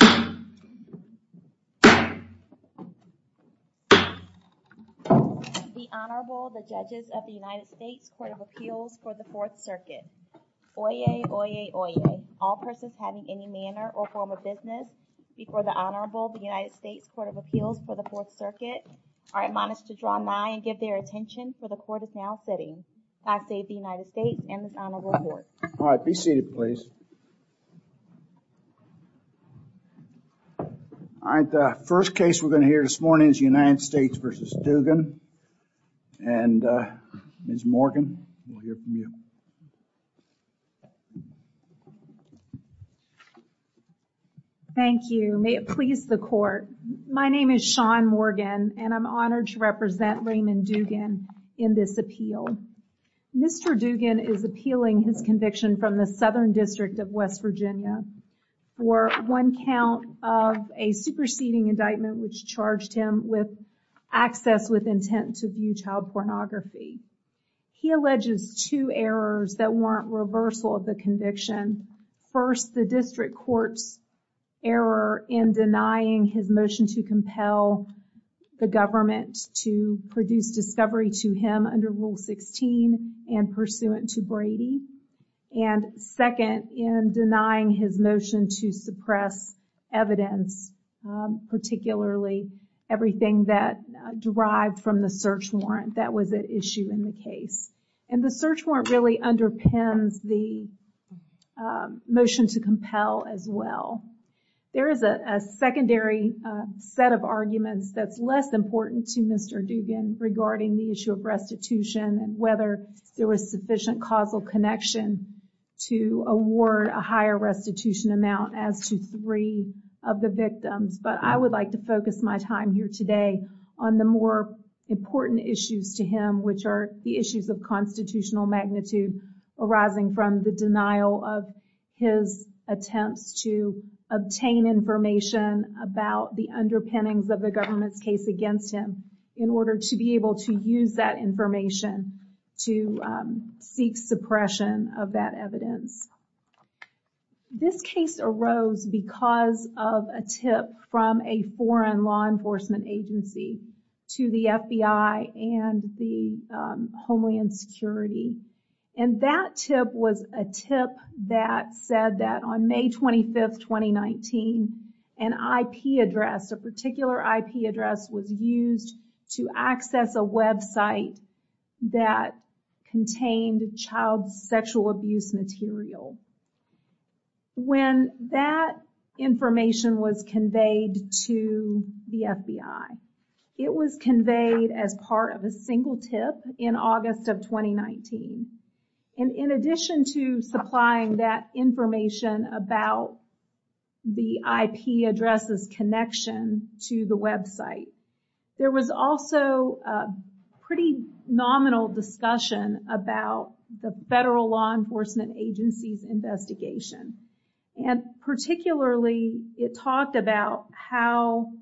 The Honorable, the Judges of the United States Court of Appeals for the Fourth Circuit. Oyez, oyez, oyez. All persons having any manner or form of business before the Honorable, the United States Court of Appeals for the Fourth Circuit are admonished to draw nigh and give their attention, for the Court is now sitting. I say the United States and the Honorable Court. Be seated, please. All right. The first case we're going to hear this morning is United States v. Dugan and Ms. Morgan, we'll hear from you. Thank you. May it please the Court. My name is Shawn Morgan and I'm honored to represent Raymond Dugan in this appeal. Mr. Dugan is appealing his conviction from the Southern District of West Virginia for one count of a superseding indictment, which charged him with access with intent to view child pornography. He alleges two errors that warrant reversal of the conviction. First, the district court's error in denying his motion to compel the government to produce discovery to him under Rule 16 and pursuant to Brady. And second, in denying his motion to suppress evidence, particularly everything that derived from the search warrant that was at issue in the case. And the search warrant really underpins the motion to compel as well. There is a secondary set of arguments that's less important to Mr. Dugan regarding the issue of restitution and whether there was sufficient causal connection to award a higher restitution amount as to three of the victims. But I would like to focus my time here today on the more important issues to him, which are the issues of constitutional magnitude arising from the denial of his attempts to obtain information about the underpinnings of the government's case against him in order to be able to use that information to seek suppression of that This case arose because of a tip from a foreign law enforcement agency to the FBI and the Homeland Security. And that tip was a tip that said that on May 25, 2019, an IP address, a particular IP address was used to access a website that contained child sexual abuse material. When that information was conveyed to the FBI, it was conveyed as part of a single tip in August of 2019. And in addition to supplying that information about the IP addresses connection to the website, there was also a pretty nominal discussion about the federal law enforcement agency's investigation. And particularly, it talked about how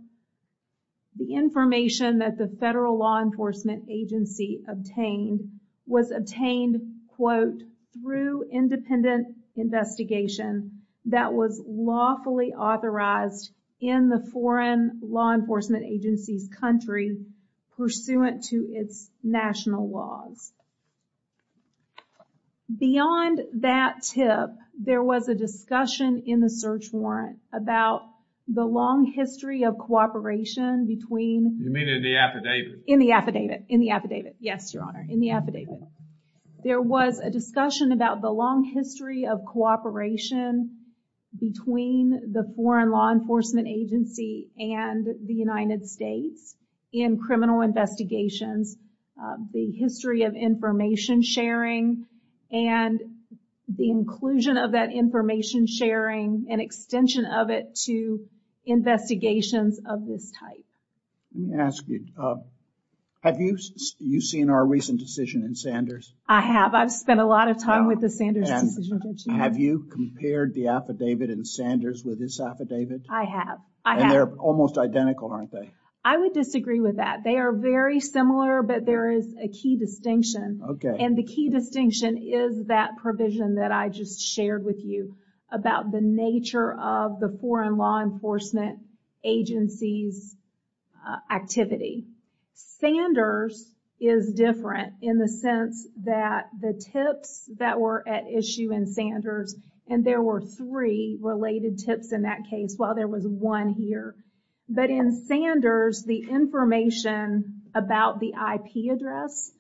the information that the federal law enforcement agency obtained was obtained, quote, through independent investigation that was lawfully authorized in the foreign law enforcement agency's country pursuant to its national laws. Beyond that tip, there was a discussion in the search warrant about the long history of cooperation between... You mean in the affidavit? In the affidavit, in the affidavit. Yes, Your Honor, in the affidavit. There was a discussion about the long history of cooperation between the foreign law enforcement agency and the United States in criminal investigations, the history of information sharing, and the inclusion of that information sharing and extension of it to investigations of this type. Let me ask you, have you seen our recent decision in Sanders? I have. I've spent a lot of time with the Sanders decision. Have you compared the affidavit in Sanders with this affidavit? I have, I have. And they're almost identical, aren't they? I would disagree with that. They are very similar, but there is a key distinction. Okay. And the key distinction is that provision that I just shared with you about the nature of the foreign law enforcement agency's activity. Sanders is different in the sense that the tips that were at issue in Sanders, and there were three related tips in that case, while there was one here. But in Sanders, the information about the IP address,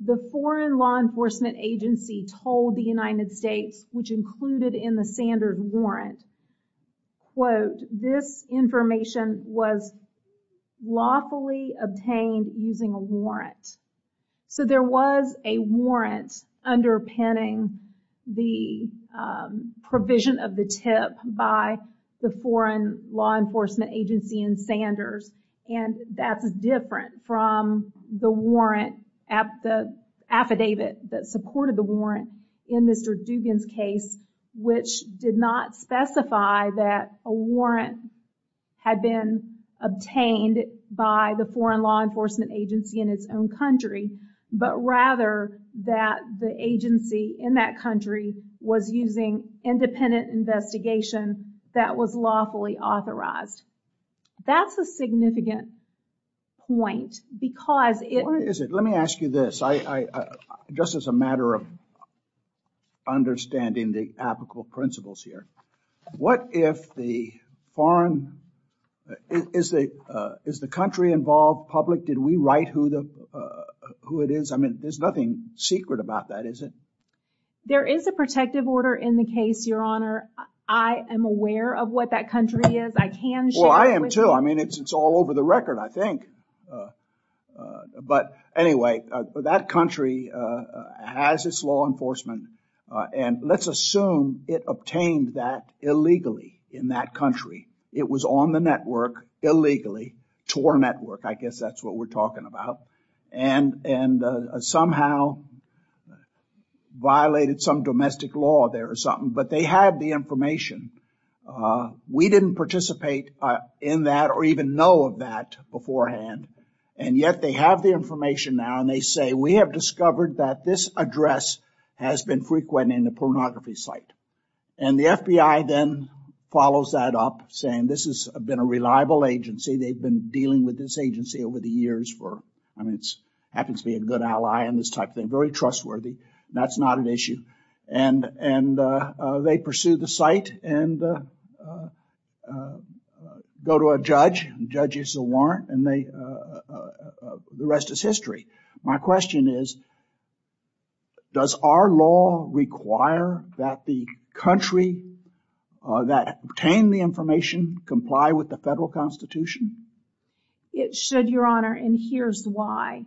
the foreign law enforcement agency told the United States, which included in the Sanders warrant, quote, this information was lawfully obtained using a warrant. So there was a warrant underpinning the provision of the tip by the foreign law enforcement agency in Sanders. And that's different from the warrant at the affidavit that supported the warrant in Mr. Dubin's case, which did not specify that a warrant had been obtained by the foreign law enforcement agency in its own country, but rather that the agency in that country was using independent investigation that was lawfully authorized. That's a significant point because it... What is it? Let me ask you this, just as a matter of understanding the applicable principles here, what if the foreign, is the country involved public? Did we write who it is? I mean, there's nothing secret about that, is it? There is a protective order in the case, Your Honor. I am aware of what that country is. I can share it with you. Well, I am too. I mean, it's all over the record, I think. But anyway, that country has its law enforcement and let's assume it obtained that illegally in that country. It was on the network illegally, TOR network. I guess that's what we're talking about, and somehow violated some domestic law there or something, but they had the information. We didn't participate in that or even know of that beforehand, and yet they have the information now and they say, we have discovered that this address has been frequent in the pornography site. And the FBI then follows that up saying this has been a reliable agency. They've been dealing with this agency over the years for, I mean, it's happens to be a good ally and this type of thing, very trustworthy. That's not an issue. And they pursue the site and go to a judge. The judge gives a warrant and the rest is history. My question is, does our law require that the country that obtained the information comply with the federal constitution? It should, Your Honor. And here's why.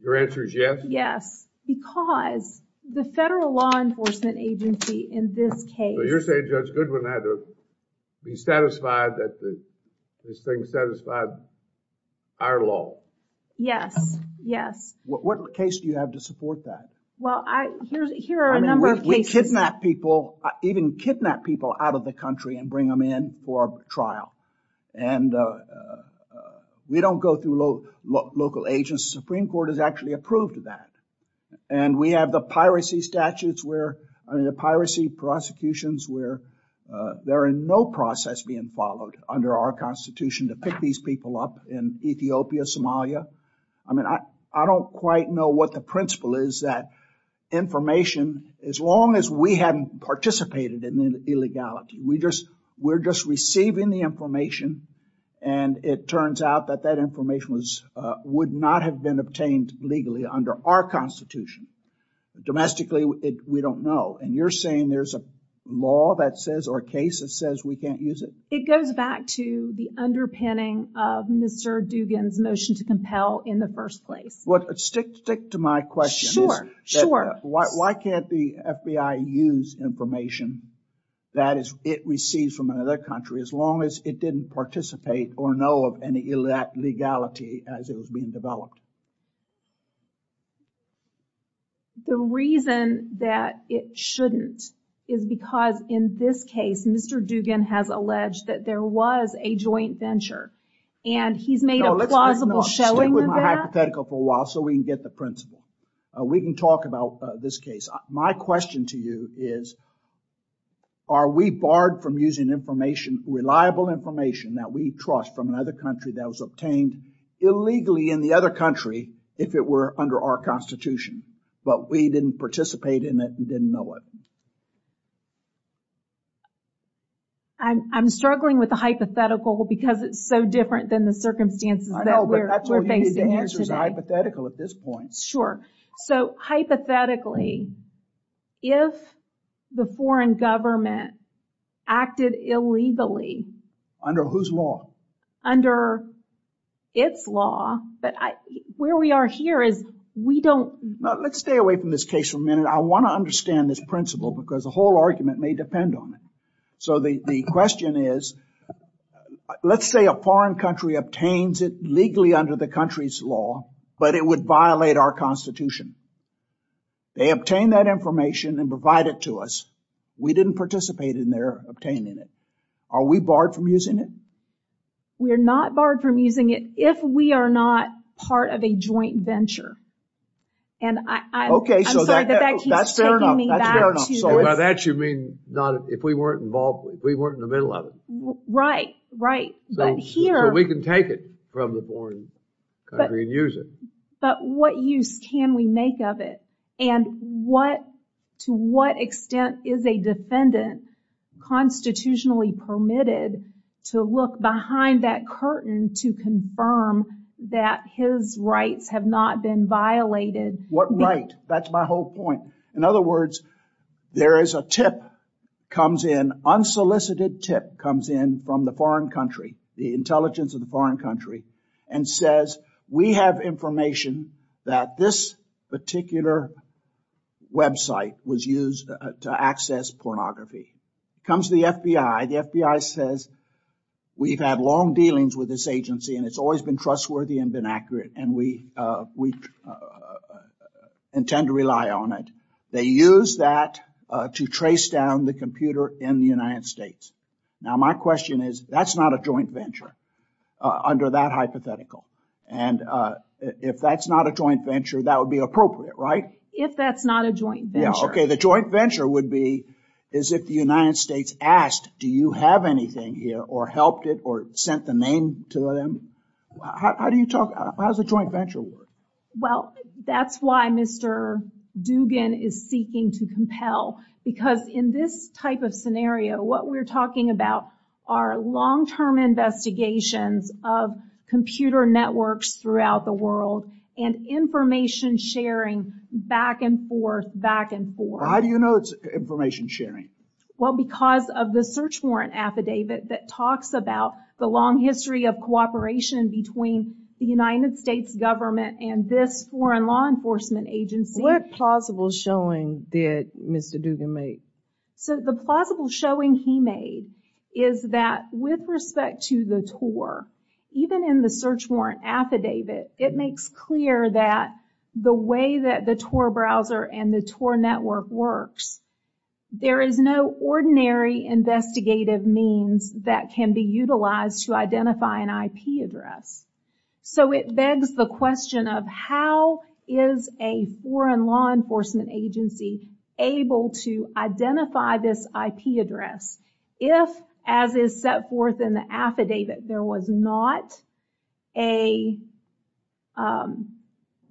Your answer is yes? Yes, because the federal law enforcement agency in this case. So you're saying Judge Goodwin had to be satisfied that this thing satisfied our law? Yes, yes. What case do you have to support that? Well, here are a number of cases. We kidnap people, even kidnap people out of the country and bring them in for a trial, and we don't go through local agents. The Supreme Court has actually approved that and we have the piracy statutes where, I mean, the piracy prosecutions where there are no process being followed under our constitution to pick these people up in Ethiopia, Somalia. I mean, I don't quite know what the principle is that information, as long as we hadn't participated in illegality, we just, we're just receiving the information and it turns out that that information was, would not have been obtained legally under our constitution. Domestically, we don't know. And you're saying there's a law that says or a case that says we can't use it? It goes back to the underpinning of Mr. Dugan's motion to compel in the first place. Well, stick to my question. Sure, sure. Why can't the FBI use information that it receives from another country as long as it didn't participate or know of any illegality as it was being developed? The reason that it shouldn't is because in this case, Mr. Dugan has alleged that there was a joint venture and he's made a plausible showing of that. Let's stick with my hypothetical for a while so we can get the principle. We can talk about this case. My question to you is, are we barred from using information, reliable information that we trust from another country that was obtained illegally in the other country if it were under our constitution, but we didn't participate in it and didn't know it? I'm struggling with the hypothetical because it's so different than the circumstances that we're facing here today. The answer is hypothetical at this point. Sure. So hypothetically, if the foreign government acted illegally- Under whose law? Under its law, but where we are here is we don't- Let's stay away from this case for a minute. I want to understand this principle because the whole argument may depend on it. So the question is, let's say a foreign country obtains it legally under the country's law, but it would violate our constitution. They obtain that information and provide it to us. We didn't participate in their obtaining it. Are we barred from using it? We're not barred from using it if we are not part of a joint venture. And I'm sorry, but that keeps taking me back to- Okay, so that's fair enough. By that, you mean if we weren't involved, if we weren't in the middle of it. Right, right. So we can take it from the foreign country and use it. But what use can we make of it? And to what extent is a defendant constitutionally permitted to look behind that curtain to confirm that his rights have not been violated? What right? That's my whole point. In other words, there is a tip comes in, unsolicited tip comes in from the foreign country, the intelligence of the foreign country and says, we have information that this particular website was used to access pornography. Comes the FBI. The FBI says, we've had long dealings with this agency and it's always been trustworthy and been accurate and we intend to rely on it. They use that to trace down the computer in the United States. Now, my question is, that's not a joint venture under that hypothetical. And if that's not a joint venture, that would be appropriate, right? If that's not a joint venture. Okay, the joint venture would be, is if the United States asked, do you have anything here or helped it or sent the name to them? How do you talk? How does a joint venture work? Well, that's why Mr. Dugan is seeking to compel because in this type of scenario, what we're talking about are long-term investigations of computer networks throughout the world and information sharing back and forth, back and forth. How do you know it's information sharing? Well, because of the search warrant affidavit that talks about the long history of cooperation between the United States government and this foreign law enforcement agency. What plausible showing did Mr. Dugan make? So, the plausible showing he made is that with respect to the TOR, even in the search warrant affidavit, it makes clear that the way that the TOR browser and the TOR network works, there is no ordinary investigative means that can be utilized to identify an IP address. So, it begs the question of how is a foreign law enforcement agency able to identify this IP address if, as is set forth in the affidavit, there was not an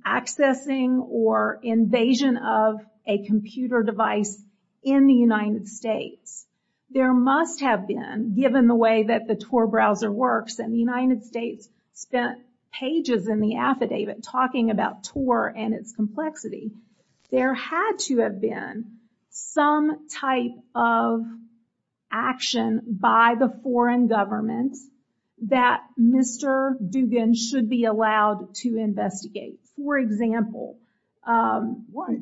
accessing or invasion of a computer device in the United States. There must have been, given the way that the TOR browser works and the United States spent pages in the affidavit talking about TOR and its complexity, there had to have been some type of action by the foreign government that Mr. Dugan should be allowed to investigate. For example... Well,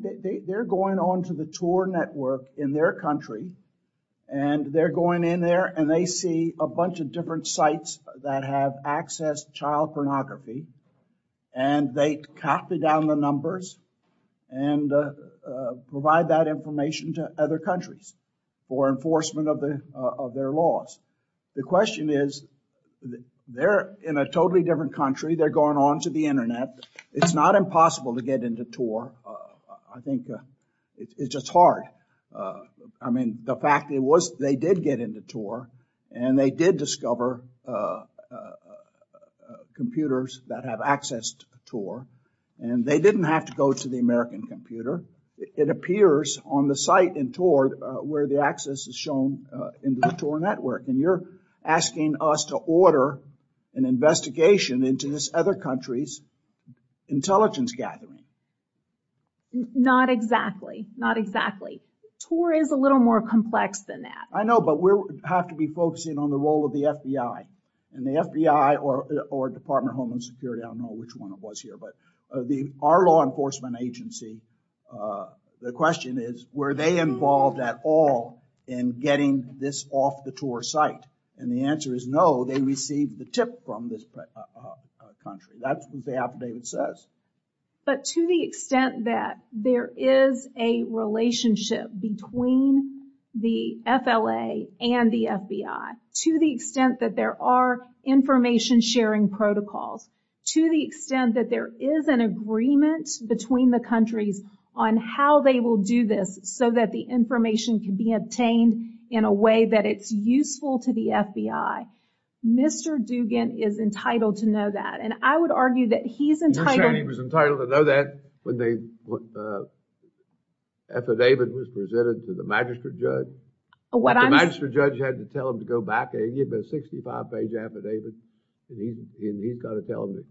they're going on to the TOR network in their country and they're going in there and they see a bunch of different sites that have accessed child pornography and they copy down the numbers and provide that information to other countries for enforcement of their laws. The question is, they're in a totally different country. They're going on to the internet. It's not impossible to get into TOR. I think it's just hard. I mean, the fact it was, they did get into TOR and they did discover computers that have accessed TOR and they didn't have to go to the American computer. It appears on the site in TOR where the access is shown in the TOR network and you're asking us to order an investigation into this other country's intelligence gathering. Not exactly. Not exactly. TOR is a little more complex than that. I know, but we have to be focusing on the role of the FBI and the FBI or Department of Homeland Security. I don't know which one it was here, but our law enforcement agency, the question is, were they involved at all in getting this off the TOR site? And the answer is no, they received the tip from this country. That's what the affidavit says. But to the extent that there is a relationship between the FLA and the FBI, to the extent that there are information sharing protocols, to the extent that there is an agreement between the countries on how they will do this so that the information can be obtained in a way that it's useful to the FBI, Mr. Dugan is entitled to know that. And I would argue that he's entitled. You're saying he was entitled to know that when the affidavit was presented to the magistrate judge? The magistrate judge had to tell him to go back and give him a 65-page affidavit and he's got to tell him to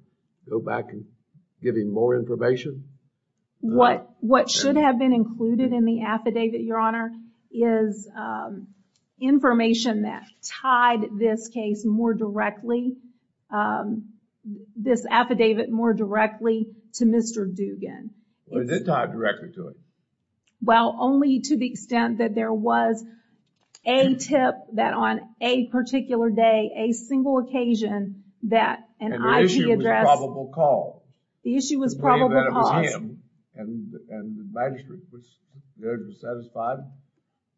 go back and give him more information? What should have been included in the affidavit, Your Honor, is information that tied this case more directly, this affidavit more directly to Mr. Dugan. Was it tied directly to him? Well, only to the extent that there was a tip that on a particular day, a single occasion, that an IP address... And the issue was a probable cause. The issue was probable cause. And the magistrate judge was satisfied,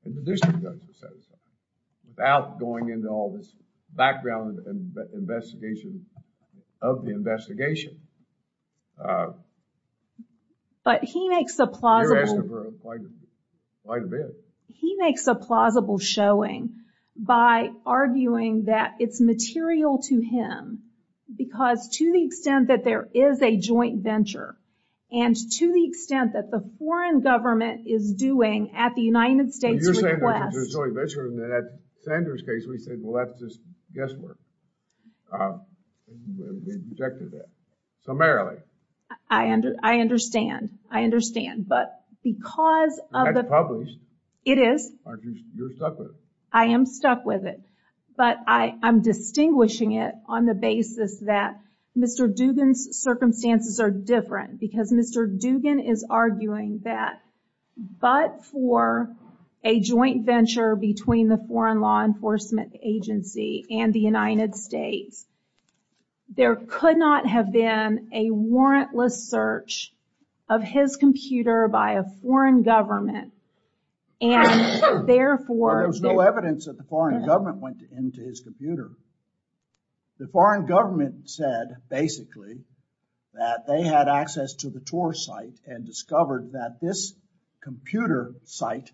and the district judge was satisfied, without going into all this background investigation of the investigation. But he makes a plausible showing by arguing that it's material to him because to the extent that there is a joint venture, and to the extent that the foreign government is doing at the United States' request... But you're saying there's a joint venture, and at Sanders' case, we said, well, that's just guesswork. We objected to that. Summarily. I understand. I understand. But because of the... That's published. It is. Aren't you... You're stuck with it. I am stuck with it. But I'm distinguishing it on the basis that Mr. Dugan's circumstances are different because Mr. Dugan is arguing that, but for a joint venture between the Foreign Law Enforcement Agency and the United States, there could not have been a warrantless search of his computer by a foreign government, and therefore... There was no evidence that the foreign government went into his computer. The foreign government said, basically, that they had access to the tour site and discovered that this computer site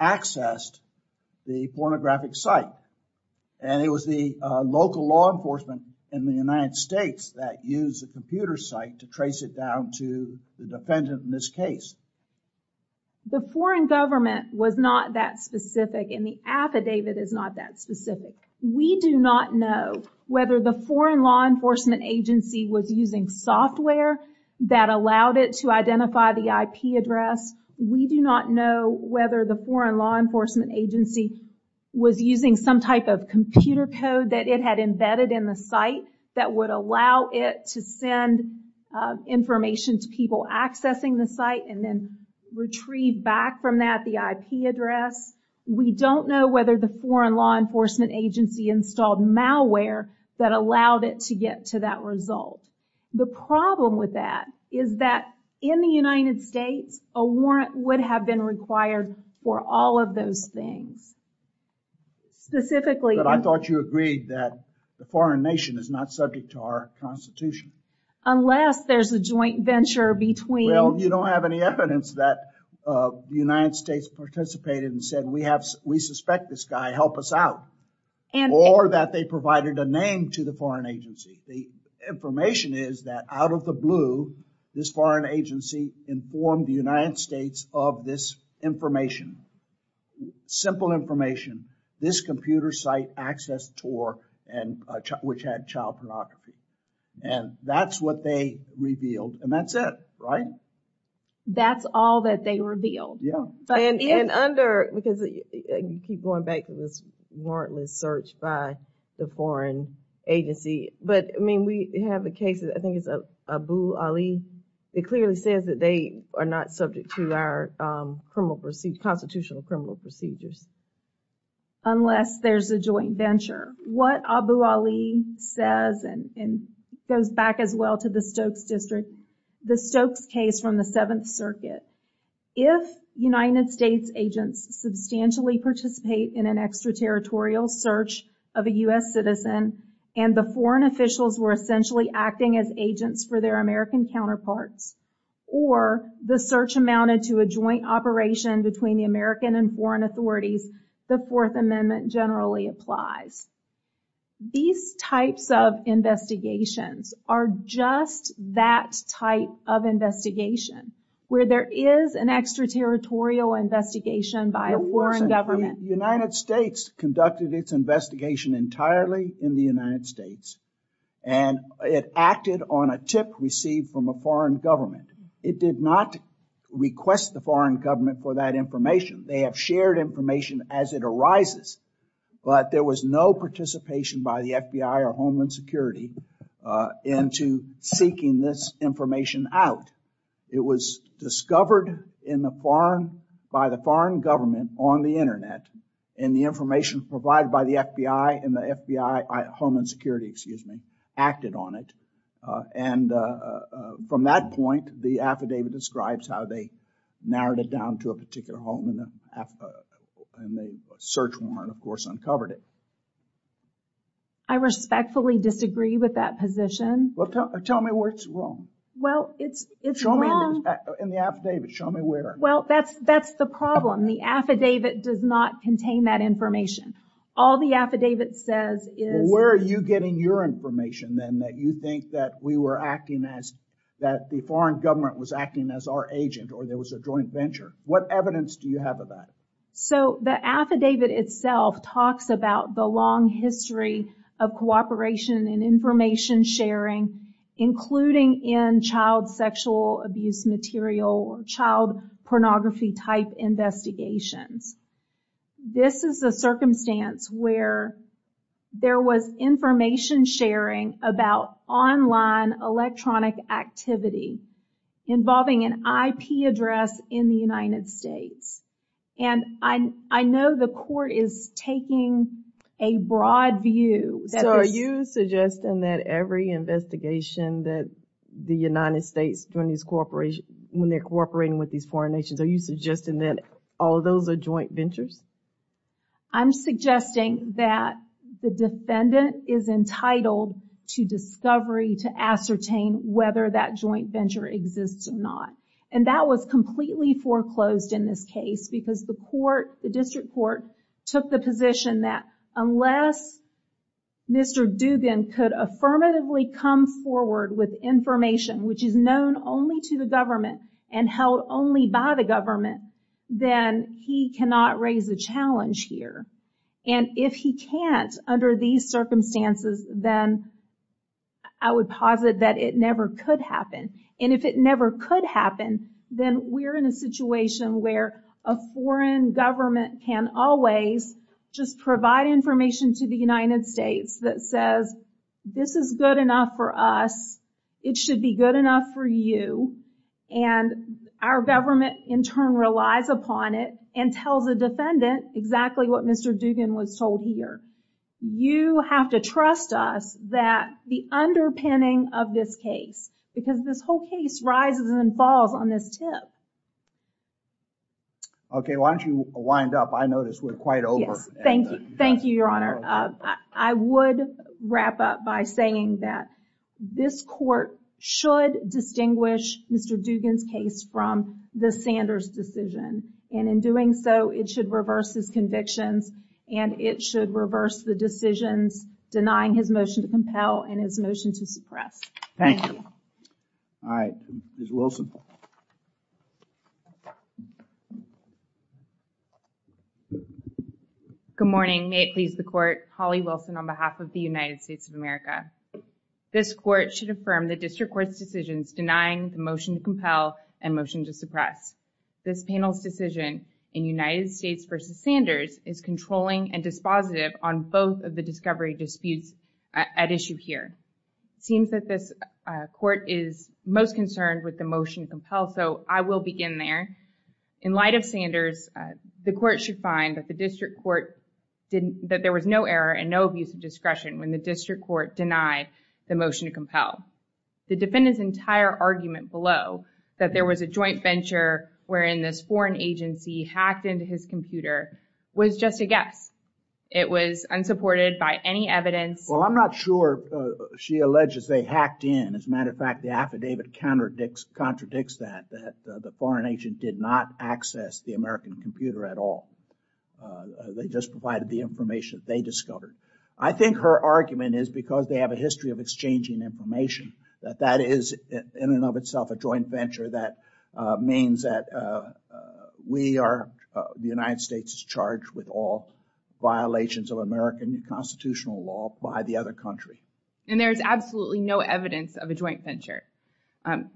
accessed the pornographic site. And it was the local law enforcement in the United States that used the computer site to trace it down to the defendant in this case. The foreign government was not that specific, and the affidavit is not that specific. We do not know whether the Foreign Law Enforcement Agency was using software that allowed it to identify the IP address. We do not know whether the Foreign Law Enforcement Agency was using some type of computer code that it had embedded in the site that would allow it to send information to people accessing the site and then retrieve back from that the IP address. We don't know whether the Foreign Law Enforcement Agency installed malware that allowed it to get to that result. The problem with that is that in the United States, a warrant would have been required for all of those things. Specifically... But I thought you agreed that the foreign nation is not subject to our Constitution. Unless there's a joint venture between... Well, you don't have any evidence that the United States participated and said, we suspect this guy, help us out. Or that they provided a name to the agency. The information is that out of the blue, this foreign agency informed the United States of this information. Simple information. This computer site accessed Tor, which had child pornography. And that's what they revealed. And that's it, right? That's all that they revealed. And under... because you keep going back to this warrantless search by the foreign agency. But, I mean, we have a case, I think it's Abu Ali. It clearly says that they are not subject to our constitutional criminal procedures. Unless there's a joint venture. What Abu Ali says, and goes back as well to the Stokes District, the Stokes case from the Seventh Circuit, if United States agents substantially participate in an extraterritorial search of a U.S. citizen, and the foreign officials were essentially acting as agents for their American counterparts, or the search amounted to a joint operation between the American and foreign authorities, the Fourth Amendment generally applies. These types of investigations are just that type of investigation, where there is an extraterritorial investigation by a foreign government. The United States conducted its investigation entirely in the United States, and it acted on a tip received from a foreign government. It did not request the foreign government for that information. They have shared information as it arises. But there was no participation by the FBI or Homeland Security into seeking this information out. It was discovered by the foreign government on the Internet, and the information provided by the FBI and the FBI, Homeland Security, excuse me, acted on it. And from that point, the affidavit describes how they narrowed it down to a particular home, and the search warrant, of course, uncovered it. I respectfully disagree with that position. Well, tell me what's wrong. Well, it's, it's wrong. In the affidavit, show me where. Well, that's, that's the problem. The affidavit does not contain that information. All the affidavit says is... Where are you getting your information, then, that you think that we were acting as, that the foreign government was acting as our agent, or there was a joint venture? What evidence do you have of that? So, the affidavit itself talks about the long history of cooperation and information sharing, including in child sexual abuse material or child pornography type investigations. This is a circumstance where there was information sharing about online electronic activity involving an IP address in the United States. And I, I know the court is taking a broad view. So, are you suggesting that every investigation that the United States doing this cooperation, when they're cooperating with these foreign nations, are you suggesting that all of those are joint ventures? I'm suggesting that the defendant is entitled to discovery to ascertain whether that joint venture exists or not. And that was completely foreclosed in this case because the court, the Mr. Dubin could affirmatively come forward with information, which is known only to the government and held only by the government, then he cannot raise a challenge here. And if he can't under these circumstances, then I would posit that it never could happen. And if it never could happen, then we're in a situation where a foreign government can always just provide information to the United States that says, this is good enough for us. It should be good enough for you. And our government in turn relies upon it and tells a defendant exactly what Mr. Dubin was told here. You have to trust us that the underpinning of this case, because this whole case rises and falls on this tip. Okay. Why don't you wind up? I notice we're quite over. Thank you. Thank you, Your Honor. I would wrap up by saying that this court should distinguish Mr. Dubin's case from the Sanders decision. And in doing so, it should reverse his convictions and it should reverse the decisions denying his motion to compel and his motion to suppress. Thank you. All right. Ms. Wilson. Good morning. May it please the court. Holly Wilson on behalf of the United States of America. This court should affirm the district court's decisions denying the motion to compel and motion to suppress. This panel's decision in United States v. Sanders is controlling and dispositive on both of the discovery disputes at issue here. It seems that this court is most concerned with the motion to compel. So I will begin there. In light of Sanders, the court should find that the district court didn't, that there was no error and no abuse of discretion when the district court denied the motion to compel. The defendant's entire argument below that there was a joint venture wherein this foreign agency hacked into his computer was just a guess. It was unsupported by any evidence. Well, I'm not sure she alleges they hacked in. As a matter of fact, the affidavit contradicts that, that the foreign agent did not access the American computer at all. They just provided the information they discovered. I think her argument is because they have a history of exchanging information that that is in and of itself a joint venture. That means that we are, the United States is charged with all violations of American constitutional law by the other country. And there's absolutely no evidence of a joint venture.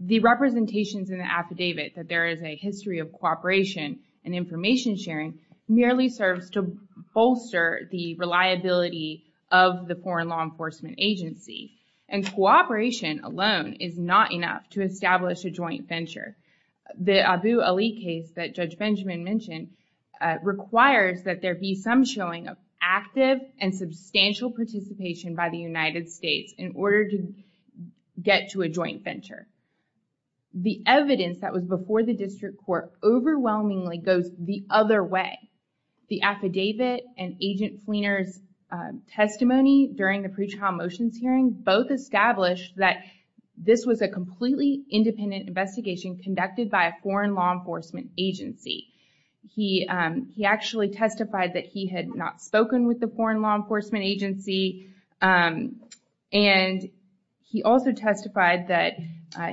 The representations in the affidavit that there is a history of cooperation and information sharing merely serves to bolster the reliability of the foreign law enforcement agency and cooperation alone is not enough to establish a joint venture. The Abu Ali case that Judge Benjamin mentioned requires that there be some showing of active and substantial participation by the United States in order to get to a joint venture. The evidence that was before the district court overwhelmingly goes the other way. The affidavit and Agent Fleener's testimony during the pretrial motions hearing both established that this was a completely independent investigation conducted by a foreign law enforcement agency. He actually testified that he had not spoken with the foreign law enforcement agency. And he also testified that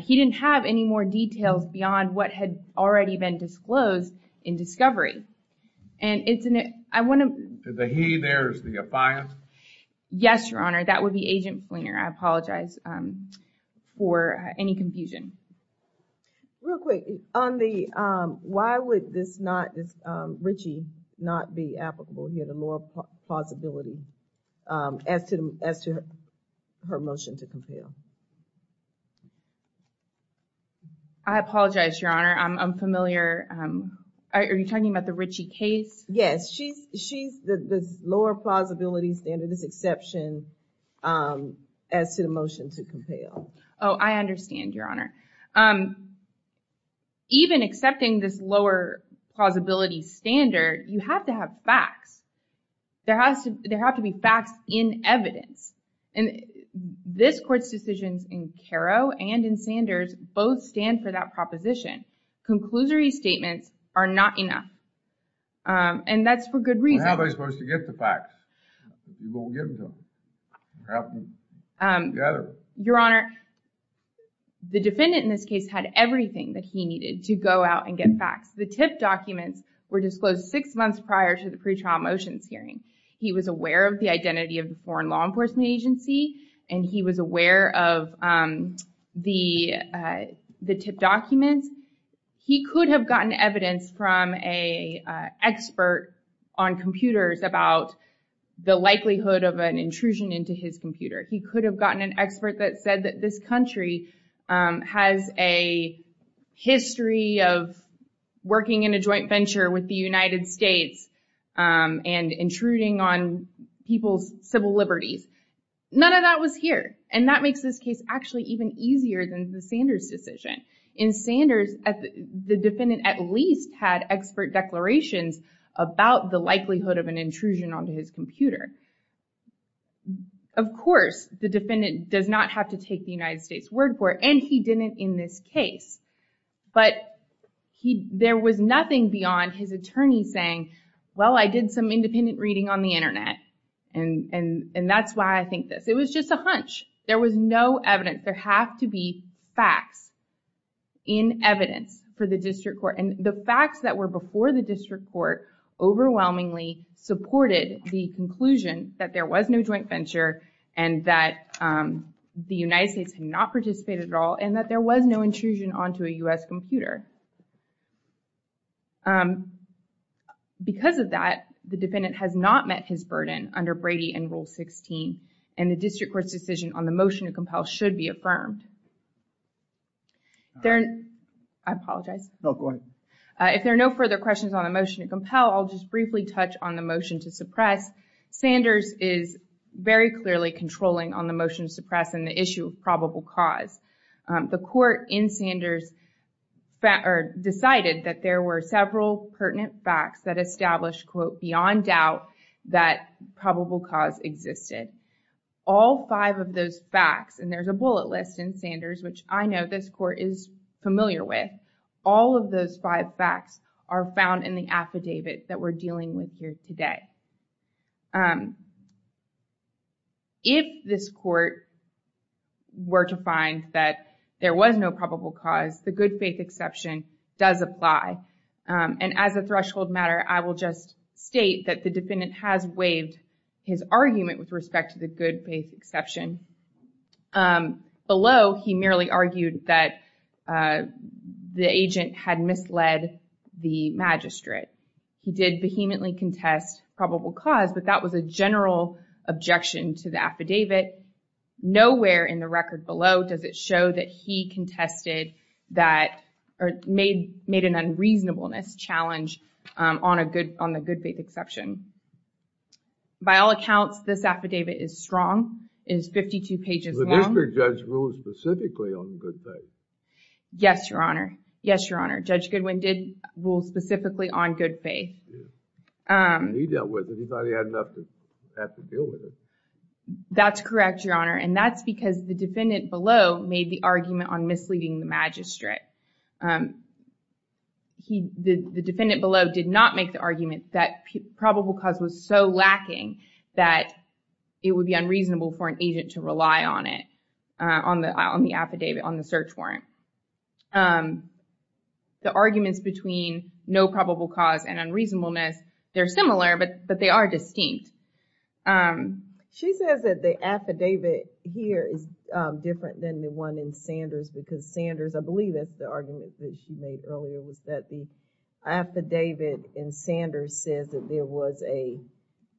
he didn't have any more details beyond what had already been disclosed in discovery. And it's an, I want to... The he there is the affiant? Yes, your honor. That would be Agent Fleener. I apologize for any confusion. Real quick on the, why would this not, this Ritchie not be applicable here? The lower plausibility as to, as to her motion to compel? I apologize, your honor. I'm familiar. Are you talking about the Ritchie case? Yes, she's, she's the lower plausibility standard, this exception as to the motion to compel. Oh, I understand, your honor. Even accepting this lower plausibility standard, you have to have facts. There has to, there have to be facts in evidence. And this court's decisions in Caro and in Sanders both stand for that proposition. Conclusory statements are not enough. And that's for good reason. How am I supposed to get the facts? You won't get them to them. You have to gather them. Your honor, the defendant in this case had everything that he needed to go out and get facts. The TIP documents were disclosed six months prior to the pretrial motions hearing. He was aware of the identity of the foreign law enforcement agency. And he was aware of the, the TIP documents. He could have gotten evidence from a expert on computers about the likelihood of an intrusion into his computer. He could have gotten an expert that said that this country has a history of working in a joint venture with the United States and intruding on people's civil liberties. None of that was here. And that makes this case actually even easier than the Sanders decision. In Sanders, the defendant at least had expert declarations about the likelihood of an intrusion onto his computer. Of course, the defendant does not have to take the United States word for it. And he didn't in this case. But he, there was nothing beyond his attorney saying, well, I did some independent reading on the internet. And, and, and that's why I think this. It was just a hunch. There was no evidence. There have to be facts in evidence for the district court. And the facts that were before the district court overwhelmingly supported the conclusion that there was no joint venture and that the United States had not participated at all. And that there was no intrusion onto a U.S. computer. Because of that, the defendant has not met his burden under Brady and Rule 16. And the district court's decision on the motion to compel should be affirmed. There, I apologize. No, go ahead. If there are no further questions on the motion to compel, I'll just briefly touch on the motion to suppress. Sanders is very clearly controlling on the motion to suppress and the issue of probable cause. The court in Sanders decided that there were several pertinent facts that established, quote, beyond doubt that probable cause existed. All five of those facts, and there's a bullet list in Sanders, which I know this court is familiar with, all of those five facts are found in the affidavit that we're dealing with here today. If this court were to find that there was no probable cause, the good faith exception does apply. And as a threshold matter, I will just state that the defendant has waived his argument with respect to the good faith exception. Below, he merely argued that the agent had misled the magistrate. He did vehemently contest probable cause, but that was a general objection to the affidavit. Nowhere in the record below does it show that he contested that or made an unreasonableness challenge on the good faith exception. By all accounts, this affidavit is strong. It is 52 pages long. The district judge ruled specifically on good faith. Yes, Your Honor. Yes, Your Honor. Judge Goodwin did rule specifically on good faith. He dealt with it. He thought he had enough to deal with it. That's correct, Your Honor, and that's because the defendant below made the argument on misleading the magistrate. The defendant below did not make the argument that probable cause was so lacking that it would be unreasonable for an agent to rely on it, on the affidavit, on the search warrant. The arguments between no probable cause and unreasonableness, they're similar, but they are distinct. She says that the affidavit here is different than the one in Sanders because Sanders, I believe that's the argument that she made earlier, was that the affidavit in Sanders says that there was a,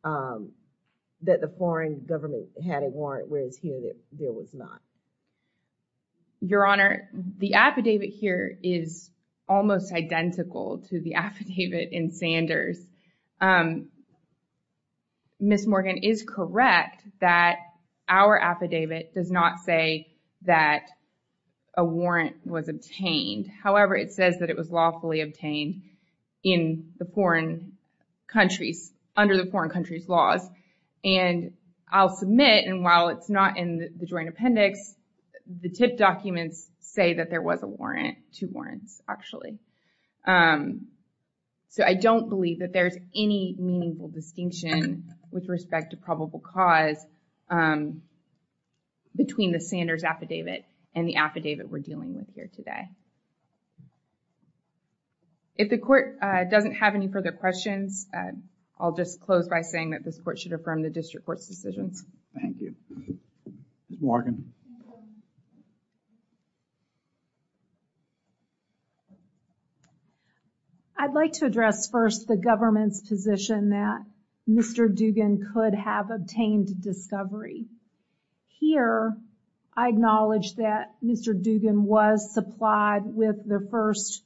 that the foreign government had a warrant, whereas here there was not. Your Honor, the affidavit here is almost identical to the affidavit in Sanders. Ms. Morgan is correct that our affidavit does not say that a warrant was obtained. However, it says that it was lawfully obtained in the foreign countries, under the foreign countries laws, and I'll submit, and while it's not in the joint appendix, the tip documents say that there was a warrant, two warrants, actually. So I don't believe that there's any meaningful distinction with respect to probable cause between the Sanders affidavit and the affidavit we're dealing with here today. If the court doesn't have any further questions, I'll just close by saying that this court should affirm the district court's decisions. Thank you. Ms. Morgan. I'd like to address first the government's position that Mr. Dugan could have obtained discovery. Here, I acknowledge that Mr. Dugan was supplied with the first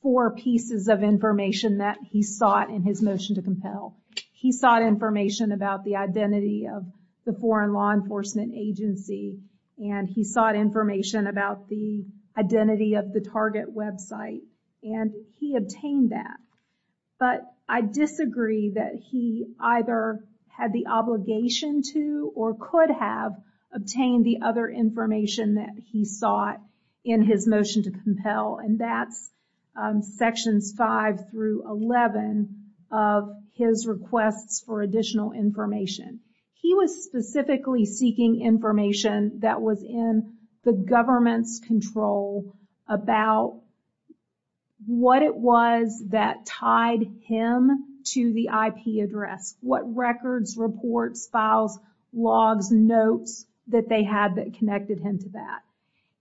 four pieces of information that he sought in his motion to compel. He sought information about the identity of the foreign law enforcement agency, and he sought information about the identity of the target website, and he obtained that. But I disagree that he either had the obligation to, or could have, obtained the other information that he sought in his motion to compel, and that's sections 5 through 11 of his requests for additional information. He was specifically seeking information that was in the government's control about what it was that tied him to the IP address, what records, reports, files, logs, notes that they had that connected him to that.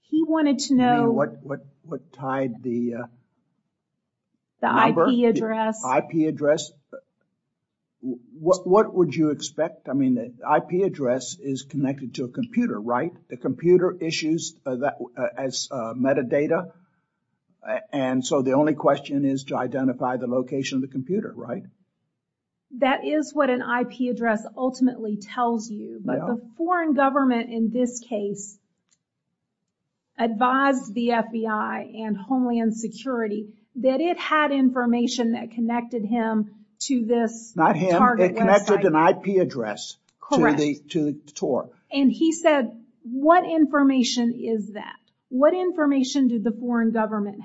He wanted to know- You mean what tied the- The IP address. IP address. What would you expect? I mean, the IP address is connected to a computer, right? The computer issues that as metadata, and so the only question is to identify the location of the computer, right? That is what an IP address ultimately tells you, but the foreign government in this case advised the FBI and Homeland Security that it had information that connected him to this target website. Not him, it connected an IP address to the tour. And he said, what information is that? What information did the foreign government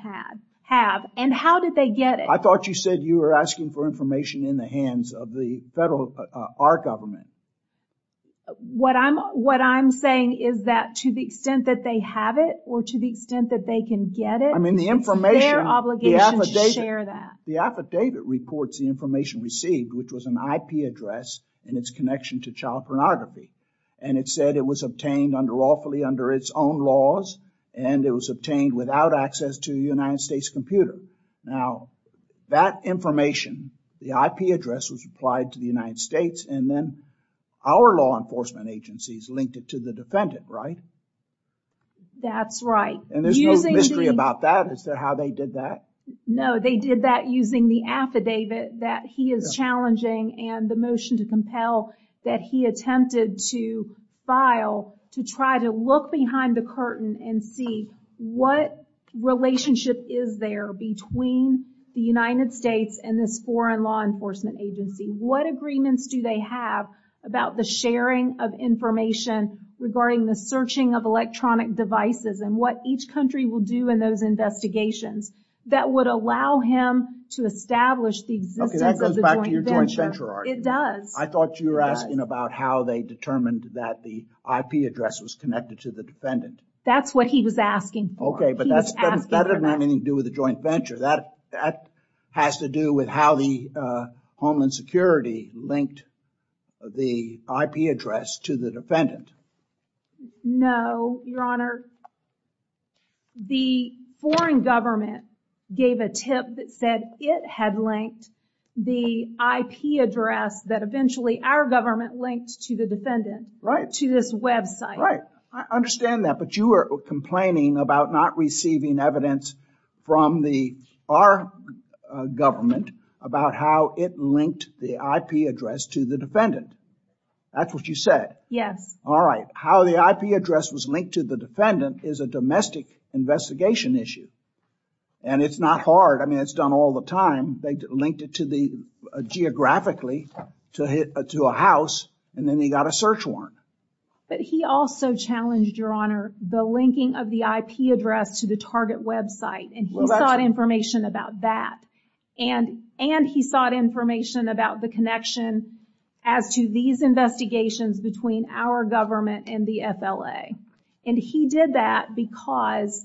have, and how did they get it? I thought you said you were asking for information in the hands of the federal, our government. What I'm saying is that to the extent that they have it, or to the extent that they can get it, it's their obligation to share that. The affidavit reports the information received, which was an IP address and its connection to child pornography. And it said it was obtained under lawfully under its own laws, and it was obtained without access to the United States computer. Now, that information, the IP address was applied to the United States and then our law enforcement agencies linked it to the defendant, right? That's right. And there's no mystery about that. Is that how they did that? No, they did that using the affidavit that he is challenging and the motion to compel that he attempted to file to try to look behind the curtain and see what relationship is there between the United States and this foreign law enforcement agency. What agreements do they have about the sharing of information regarding the searching of electronic devices and what each country will do in those investigations that would allow him to establish the existence of the joint venture? Okay, that goes back to your joint venture argument. It does. I thought you were asking about how they determined that the IP address was connected to the defendant. That's what he was asking for. Okay, but that doesn't have anything to do with the joint venture. That has to do with how the Homeland Security linked the IP address to the defendant. No, Your Honor. The foreign government gave a tip that said it had linked the IP address that eventually our government linked to the defendant to this website. Right, I understand that. But you are complaining about not receiving evidence from our government about how it linked the IP address to the defendant. That's what you said. Yes. All right, how the IP address was linked to the defendant is a domestic investigation issue and it's not hard. I mean, it's done all the time. They linked it to the geographically to a house and then he got a search warrant. But he also challenged, Your Honor, the linking of the IP address to the target website and he sought information about that and he sought information about the connection as to these investigations between our government and the FLA. And he did that because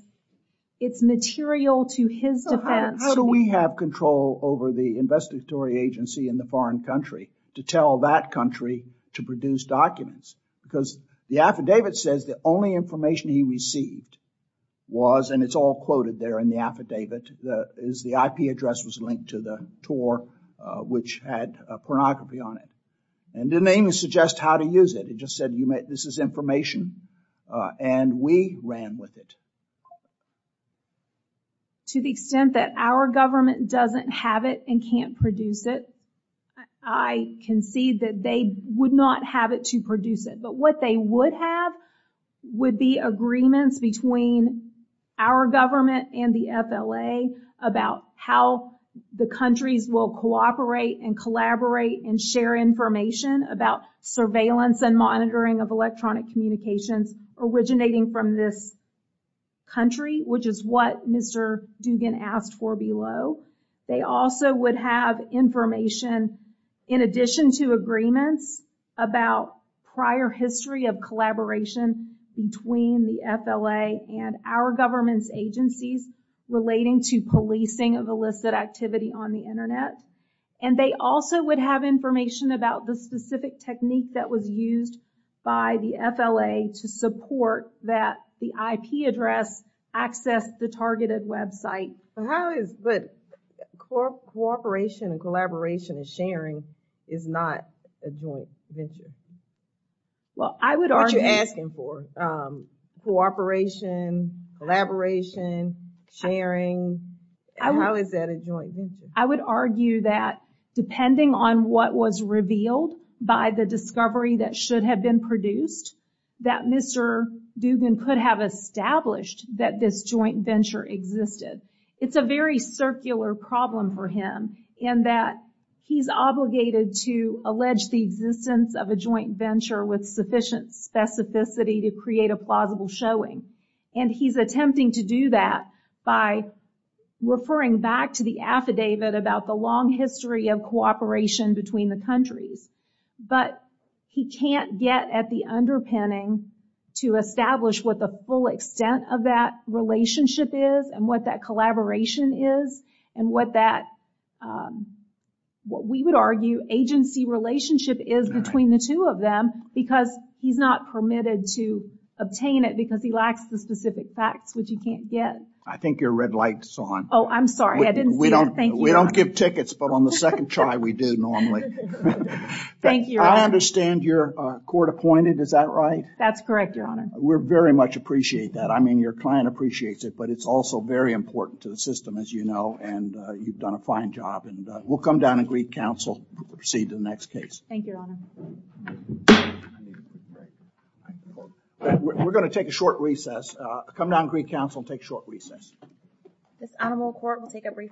it's material to his defense. How do we have control over the investigatory agency in the foreign country to tell that country to produce documents? Because the affidavit says the only information he received was, and it's all quoted there in the affidavit, is the IP address was linked to the which had a pornography on it and didn't even suggest how to use it. It just said this is information and we ran with it. To the extent that our government doesn't have it and can't produce it, I concede that they would not have it to produce it. But what they would have would be agreements between our government and the FLA about how the countries will cooperate and collaborate and share information about surveillance and monitoring of electronic communications originating from this country, which is what Mr. Dugan asked for below. They also would have information in addition to agreements about prior history of collaboration between the FLA and our government's agencies relating to policing of illicit activity on the Internet. And they also would have information about the specific technique that was used by the FLA to support that the IP address access the targeted website. How is, but cooperation and collaboration and sharing is not a joint venture. Well, I would argue that depending on what was revealed by the discovery that should have been produced that Mr. Dugan could have established that this joint venture existed. It's a very circular problem for him and that he's obligated to allege the existence of a joint venture with sufficient specificity to create a plausible showing. And he's attempting to do that by referring back to the affidavit about the long history of cooperation between the countries. But he can't get at the underpinning to establish what the full extent of that relationship is and what that collaboration is and what that, what we would argue agency relationship is between the two of them because he's not permitted to obtain it because he lacks the specific facts which you can't get. I think your red light is on. Oh, I'm sorry. I didn't see it. Thank you. We don't give tickets, but on the second try we do normally. Thank you. I understand you're court-appointed, is that right? That's correct, your honor. We very much appreciate that. I mean, your client appreciates it, but it's also very important to the system, as you know, and you've done a fine job. And we'll come down and greet counsel, proceed to the next case. Thank you, your honor. We're going to take a short recess. Come down and greet counsel and take a short recess. This honorable court will take a brief recess.